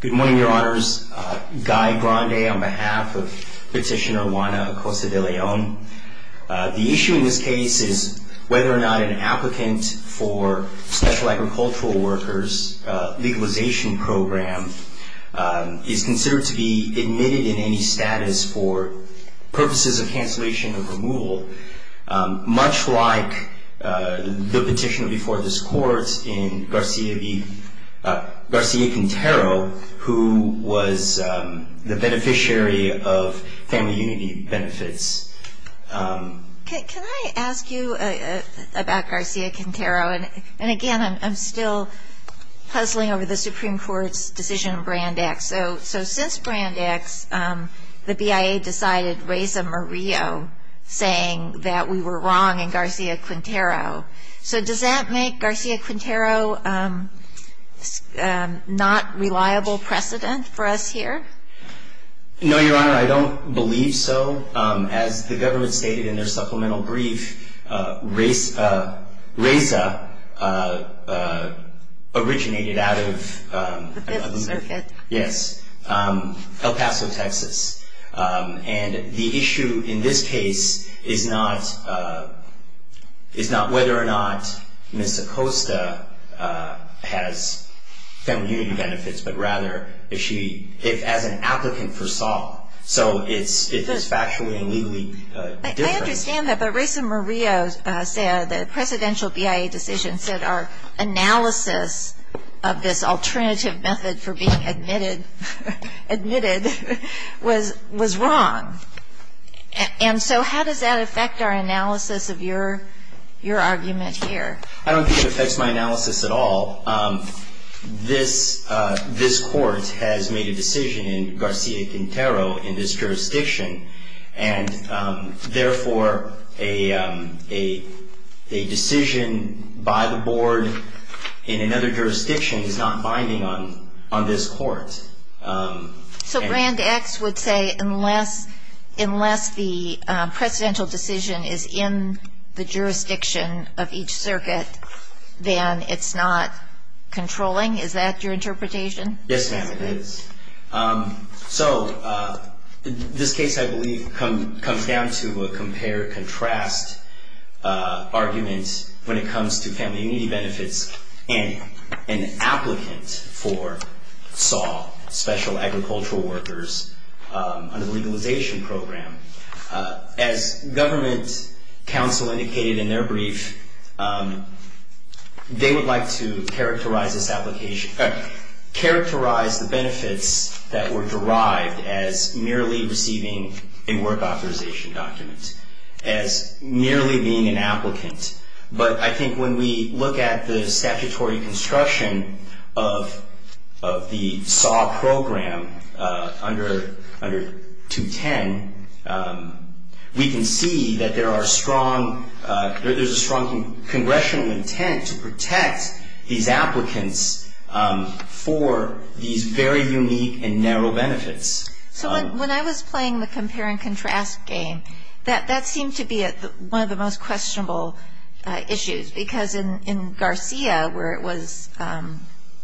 Good morning, Your Honors. Guy Grande on behalf of Petitioner Juana Acosta De Leon. The issue in this case is whether or not an applicant for Special Agricultural Workers Legalization Program is considered to be admitted in any status for purposes of cancellation or removal. Much like the petition before this Court in Garcia Quintero, who was the beneficiary of Family Unity benefits. Can I ask you about Garcia Quintero? And again, I'm still puzzling over the Supreme Court's decision on Brand X. So since Brand X, the BIA decided Reza Murillo saying that we were wrong in Garcia Quintero. So does that make Garcia Quintero not reliable precedent for us here? No, Your Honor. I don't believe so. As the government stated in their supplemental brief, Reza originated out of... El Paso, Texas. And the issue in this case is not whether or not Ms. Acosta has Family Unity benefits, but rather if as an applicant for SOL, so it is factually and legally different. I understand that, but Reza Murillo said the presidential BIA decision said our analysis of this alternative method for being admitted was wrong. And so how does that affect our analysis of your argument here? I don't think it affects my analysis at all. This court has made a decision in Garcia Quintero in this jurisdiction. And therefore, a decision by the board in another jurisdiction is not binding on this court. So Brand X would say unless the presidential decision is in the jurisdiction of each circuit, then it's not controlling? Is that your interpretation? Yes, ma'am, it is. So this case, I believe, comes down to a compare-contrast argument when it comes to Family Unity benefits and an applicant for SOL, Special Agricultural Workers, under the legalization program. As government counsel indicated in their brief, they would like to characterize the benefits that were derived as merely receiving a work authorization document, as merely being an applicant. But I think when we look at the statutory construction of the SOL program under 210, we can see that there are strong, there's a strong congressional intent to protect these applicants for these very unique and narrow benefits. So when I was playing the compare-and-contrast game, that seemed to be one of the most questionable issues. Because in Garcia, where it was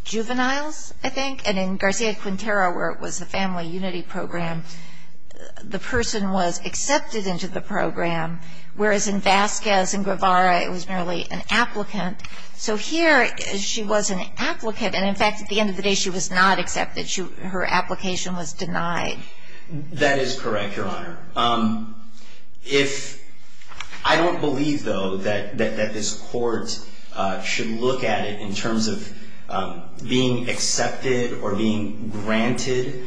juveniles, I think, and in Garcia Quintero, where it was a Family Unity program, the person was accepted into the program, whereas in Vasquez and Guevara, it was merely an applicant. So here, she was an applicant, and in fact, at the end of the day, she was not accepted. Her application was denied. That is correct, Your Honor. I don't believe, though, that this Court should look at it in terms of being accepted or being granted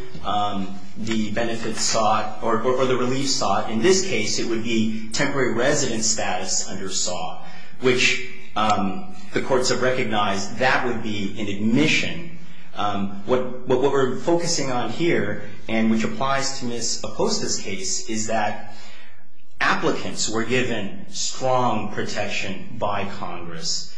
the benefits sought or the relief sought. In this case, it would be temporary resident status under SAW, which the courts have recognized that would be an admission. What we're focusing on here, and which applies to Ms. Aposta's case, is that applicants were given strong protection by Congress.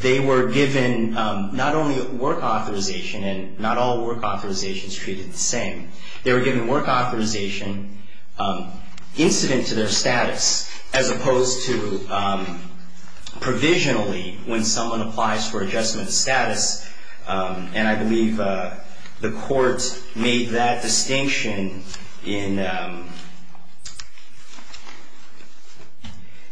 They were given not only work authorization, and not all work authorizations treated the same. They were given work authorization incident to their status, as opposed to provisionally, when someone applies for adjustment of status. And I believe the court made that distinction in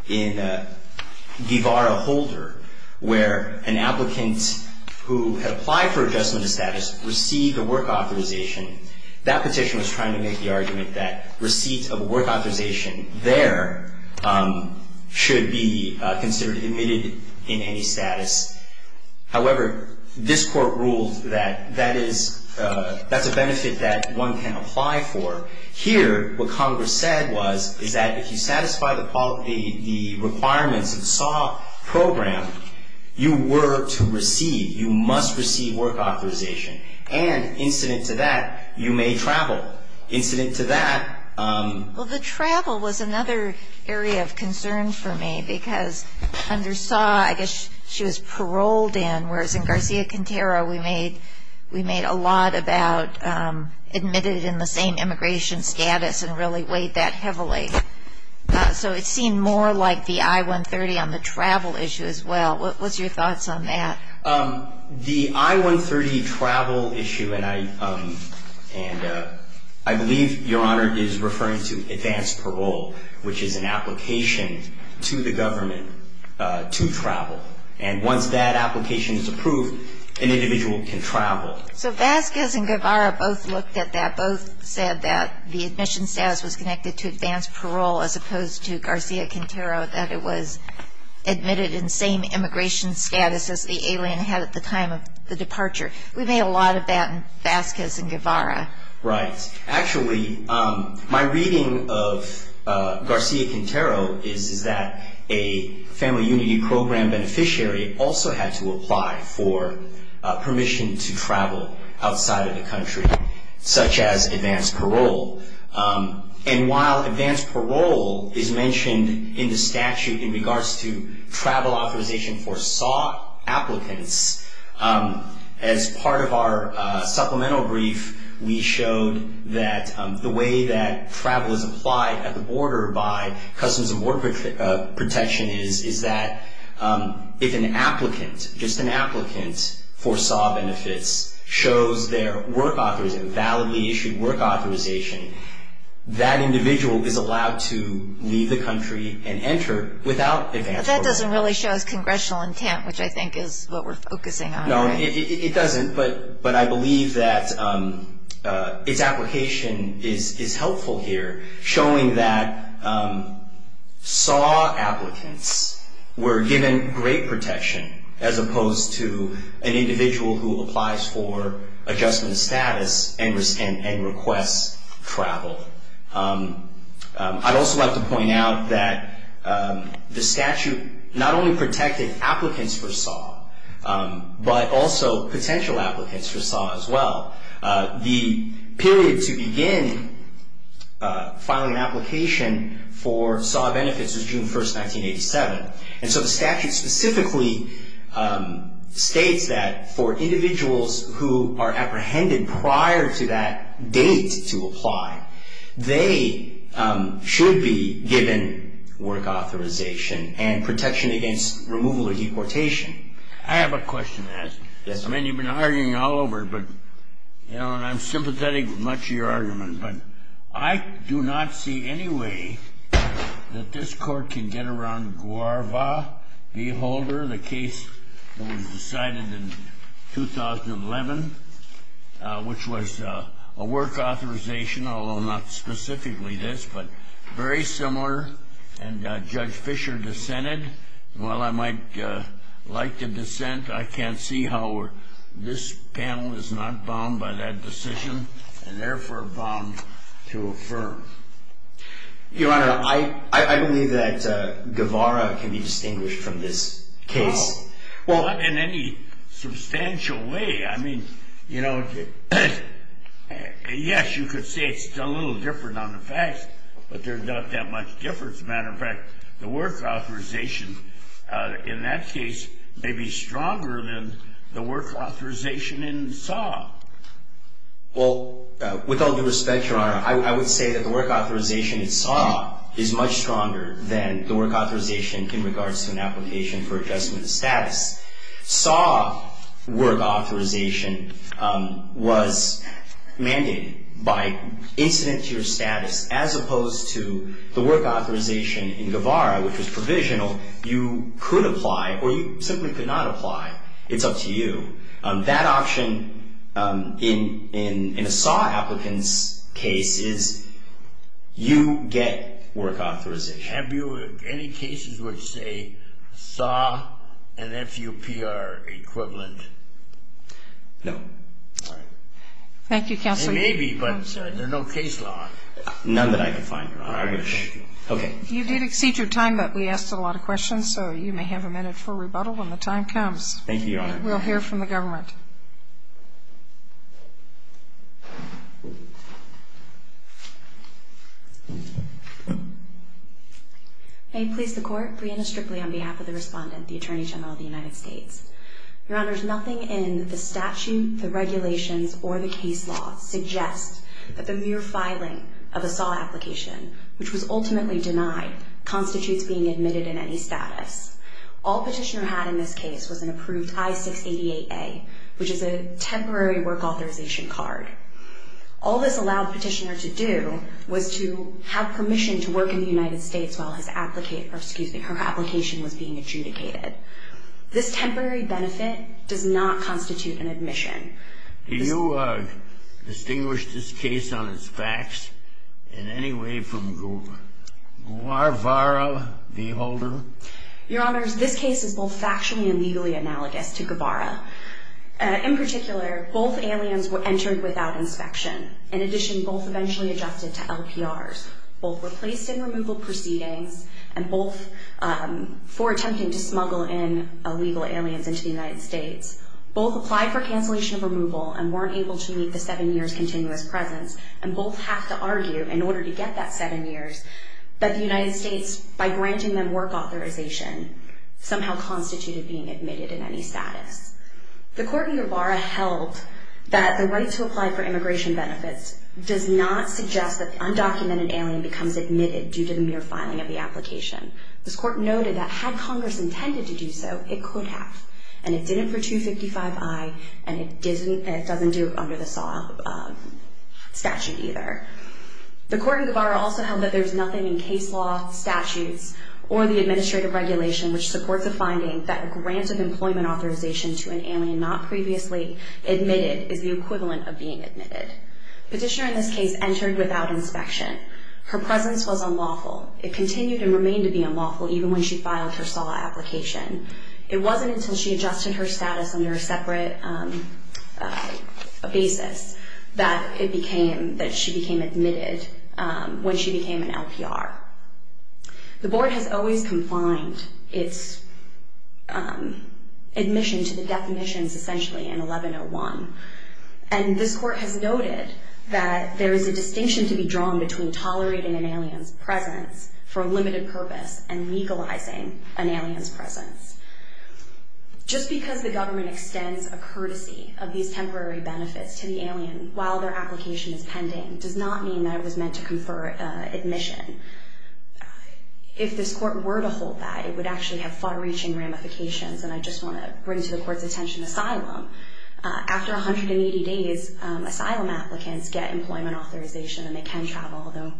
Guevara Holder, where an applicant who had applied for adjustment of status received a work authorization. That petition was trying to make the argument that receipt of work authorization there should be considered admitted in any status. However, this Court ruled that that is, that's a benefit that one can apply for. Here, what Congress said was, is that if you satisfy the requirements of the SAW program, you were to receive, you must receive work authorization. And incident to that, you may travel. Incident to that... Well, the travel was another area of concern for me, because under SAW, I guess she was paroled in. In Garcia-Quintero, we made a lot about admitted in the same immigration status, and really weighed that heavily. So it seemed more like the I-130 on the travel issue as well. What's your thoughts on that? The I-130 travel issue, and I believe Your Honor is referring to advanced parole, which is an application to the government to travel. And once that application is approved, an individual can travel. So Vasquez and Guevara both looked at that, both said that the admission status was connected to advanced parole, as opposed to Garcia-Quintero, that it was admitted in the same immigration status as the alien had at the time of the departure. We made a lot of that in Vasquez and Guevara. Right. Actually, my reading of Garcia-Quintero is that a Family Unity Program beneficiary also had to apply for permission to travel outside of the country, such as advanced parole. And while advanced parole is mentioned in the statute in regards to travel authorization for SAW applicants, as part of our supplemental brief, we showed that the way that travel is applied at the border by Customs and Border Protection is that if an applicant, just an applicant for SAW benefits shows their work authorization, validly issued work authorization, that individual is allowed to leave the country and enter without advanced parole. That doesn't really show as congressional intent, which I think is what we're focusing on. No, it doesn't, but I believe that its application is helpful here, showing that SAW applicants were given great protection, as opposed to an individual who applies for adjustment of status and requests travel. I'd also like to point out that the statute not only protected applicants for SAW, but also potential applicants for SAW as well. The period to begin filing an application for SAW benefits was June 1st, 1987. And so the statute specifically states that for individuals who are apprehended prior to that date to apply, they should be given work authorization and protection against removal or deportation. I have a question to ask. Yes, sir. I mean, you've been arguing all over, but, you know, and I'm sympathetic with much of your argument, but I do not see any way that this court can get around Guarva v. Holder, the case that was decided in 2011, which was a work authorization, although not specifically this, but very similar, and Judge Fischer dissented. While I might like to dissent, I can't see how this panel is not bound by that decision and therefore bound to affirm. Your Honor, I believe that Guarva can be distinguished from this case. Well, in any substantial way. I mean, you know, yes, you could say it's a little different on the facts, but there's not that much difference. As a matter of fact, the work authorization in that case may be stronger than the work authorization in SAW. Well, with all due respect, Your Honor, I would say that the work authorization in SAW is much stronger than the work authorization in regards to an application for adjustment of status. SAW work authorization was mandated by incident to your status as opposed to the work authorization in Guarva, which was provisional. You could apply or you simply could not apply. It's up to you. That option in a SAW applicant's case is you get work authorization. Have you any cases which say SAW and FUP are equivalent? No. All right. Thank you, Counselor. Maybe, but there's no case law. None that I can find, Your Honor. Okay. You did exceed your time, but we asked a lot of questions, so you may have a minute for rebuttal when the time comes. Thank you, Your Honor. We'll hear from the government. May it please the Court, Brianna Stripley on behalf of the Respondent, the Attorney General of the United States. Your Honor, there's nothing in the statute, the regulations, or the case law suggests that the mere filing of a SAW application, which was ultimately denied, constitutes being admitted in any status. All Petitioner had in this case was an approved I-688A, which was not in the statute. Which is a temporary work authorization card. All this allowed Petitioner to do was to have permission to work in the United States while his application was being adjudicated. This temporary benefit does not constitute an admission. Do you distinguish this case on its facts in any way from Guevara v. Holder? Your Honors, this case is both factually and legally analogous to Guevara. In particular, both aliens were entered without inspection. In addition, both eventually adjusted to LPRs. Both were placed in removal proceedings and both for attempting to smuggle in illegal aliens into the United States. Both applied for cancellation of removal and weren't able to meet the seven years continuous presence. And both have to argue, in order to get that seven years, that the United States, by granting them work authorization, somehow constituted being admitted in any status. The court in Guevara held that the right to apply for immigration benefits does not suggest that the undocumented alien becomes admitted due to the mere filing of the application. This court noted that had Congress intended to do so, it could have. And it didn't for 255I and it doesn't do it under the SAW statute either. The court in Guevara also held that there's nothing in case law, statutes, or the administrative regulation which supports a finding that a grant of employment authorization to an alien not previously admitted is the equivalent of being admitted. Petitioner in this case entered without inspection. Her presence was unlawful. It continued and remained to be unlawful even when she filed her SAW application. It wasn't until she adjusted her status under a separate basis that she became admitted when she became an LPR. The board has always confined its admission to the definitions essentially in 1101. And this court has noted that there is a distinction to be drawn between tolerating an alien's presence for a limited purpose and legalizing an alien's presence. Just because the government extends a courtesy of these temporary benefits to the alien while their application is pending does not mean that it was meant to confer admission. If this court were to hold that, it would actually have far-reaching ramifications. And I just want to bring to the court's attention asylum. After 180 days, asylum applicants get employment authorization and they can travel, although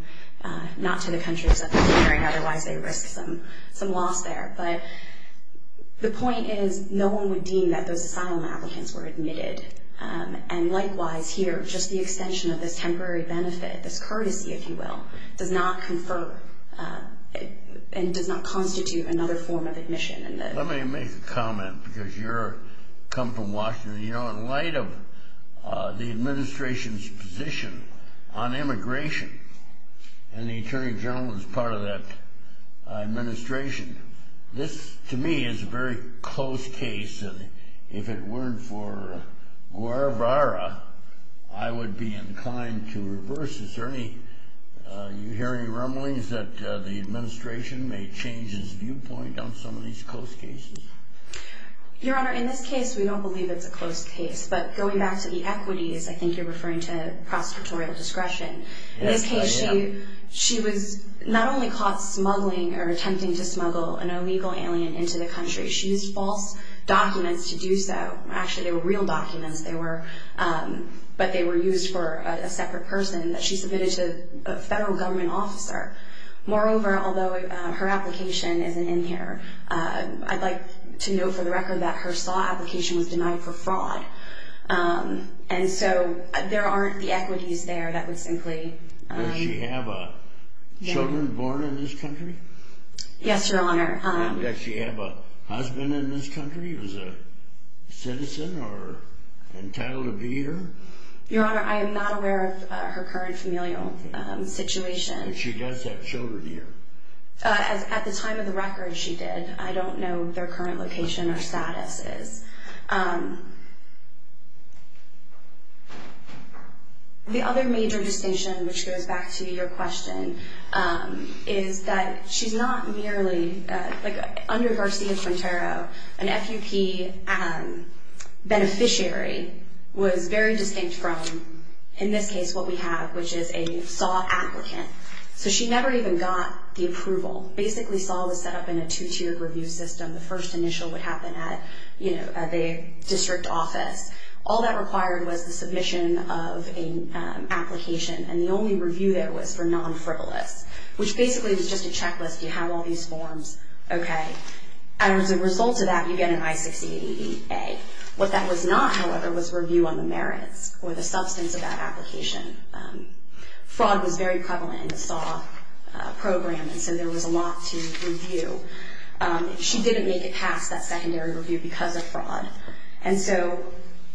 not to the countries that they're entering, otherwise they risk some loss there. But the point is no one would deem that those asylum applicants were admitted. And likewise here, just the extension of this temporary benefit, this courtesy, if you will, does not confer and does not constitute another form of admission. Let me make a comment because you come from Washington. You know, in light of the administration's position on immigration, and the attorney general is part of that administration, this to me is a very close case. And if it weren't for Guaravara, I would be inclined to reverse it. Do you hear any rumblings that the administration may change its viewpoint on some of these close cases? Your Honor, in this case, we don't believe it's a close case. But going back to the equities, I think you're referring to prosecutorial discretion. In this case, she was not only caught smuggling or attempting to smuggle an illegal alien into the country. She used false documents to do so. Actually, they were real documents, but they were used for a separate person that she submitted to a federal government officer. Moreover, although her application isn't in here, I'd like to note for the record that her SAW application was denied for fraud. And so there aren't the equities there that would simply… Does she have children born in this country? Yes, Your Honor. Does she have a husband in this country who's a citizen or entitled to be here? Your Honor, I am not aware of her current familial situation. But she does have children here. At the time of the record, she did. I don't know their current location or statuses. The other major distinction, which goes back to your question, is that she's not merely… Under Garcia-Quintero, an FUP beneficiary was very distinct from, in this case, what we have, which is a SAW applicant. So she never even got the approval. Basically, SAW was set up in a two-tiered review system. The first initial would happen at the district office. All that required was the submission of an application, and the only review there was for non-frivolous, which basically was just a checklist. You have all these forms. Okay. And as a result of that, you get an I-6088A. What that was not, however, was review on the merits or the substance of that application. Fraud was very prevalent in the SAW program, and so there was a lot to review. She didn't make it past that secondary review because of fraud. And so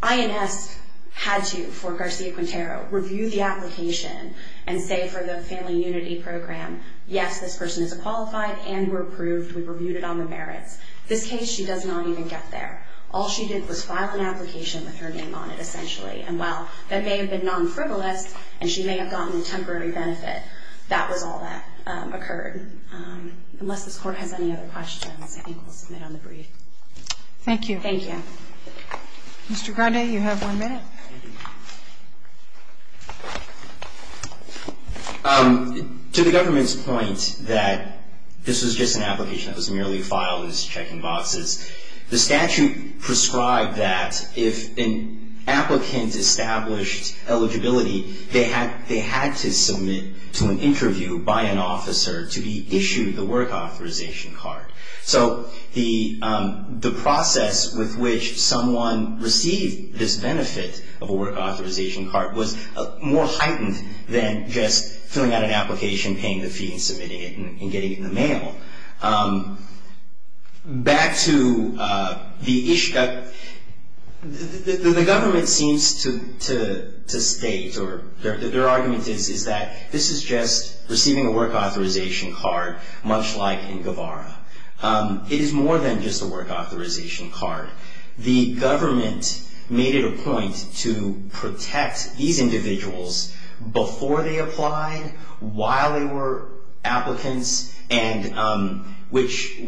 INS had to, for Garcia-Quintero, review the application and say for the Family Unity Program, yes, this person is a qualified and we're approved, we reviewed it on the merits. This case, she does not even get there. All she did was file an application with her name on it, essentially, and while that may have been non-frivolous and she may have gotten a temporary benefit, that was all that occurred. Unless this Court has any other questions, I think we'll submit on the brief. Thank you. Thank you. Mr. Grande, you have one minute. To the government's point that this was just an application that was merely filed as check-in boxes, the statute prescribed that if an applicant established eligibility, they had to submit to an interview by an officer to be issued the work authorization card. So the process with which someone received this benefit of a work authorization card was more heightened than just filling out an application, paying the fee and submitting it and getting it in the mail. Back to the issue, the government seems to state or their argument is that this is just receiving a work authorization card, much like in Guevara. It is more than just a work authorization card. The government made it a point to protect these individuals before they applied, while they were applicants, and which,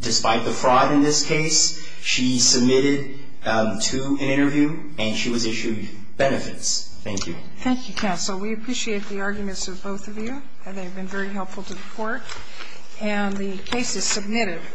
despite the fraud in this case, she submitted to an interview and she was issued benefits. Thank you. Thank you, counsel. We appreciate the arguments of both of you. They have been very helpful to the Court. And the case is submitted.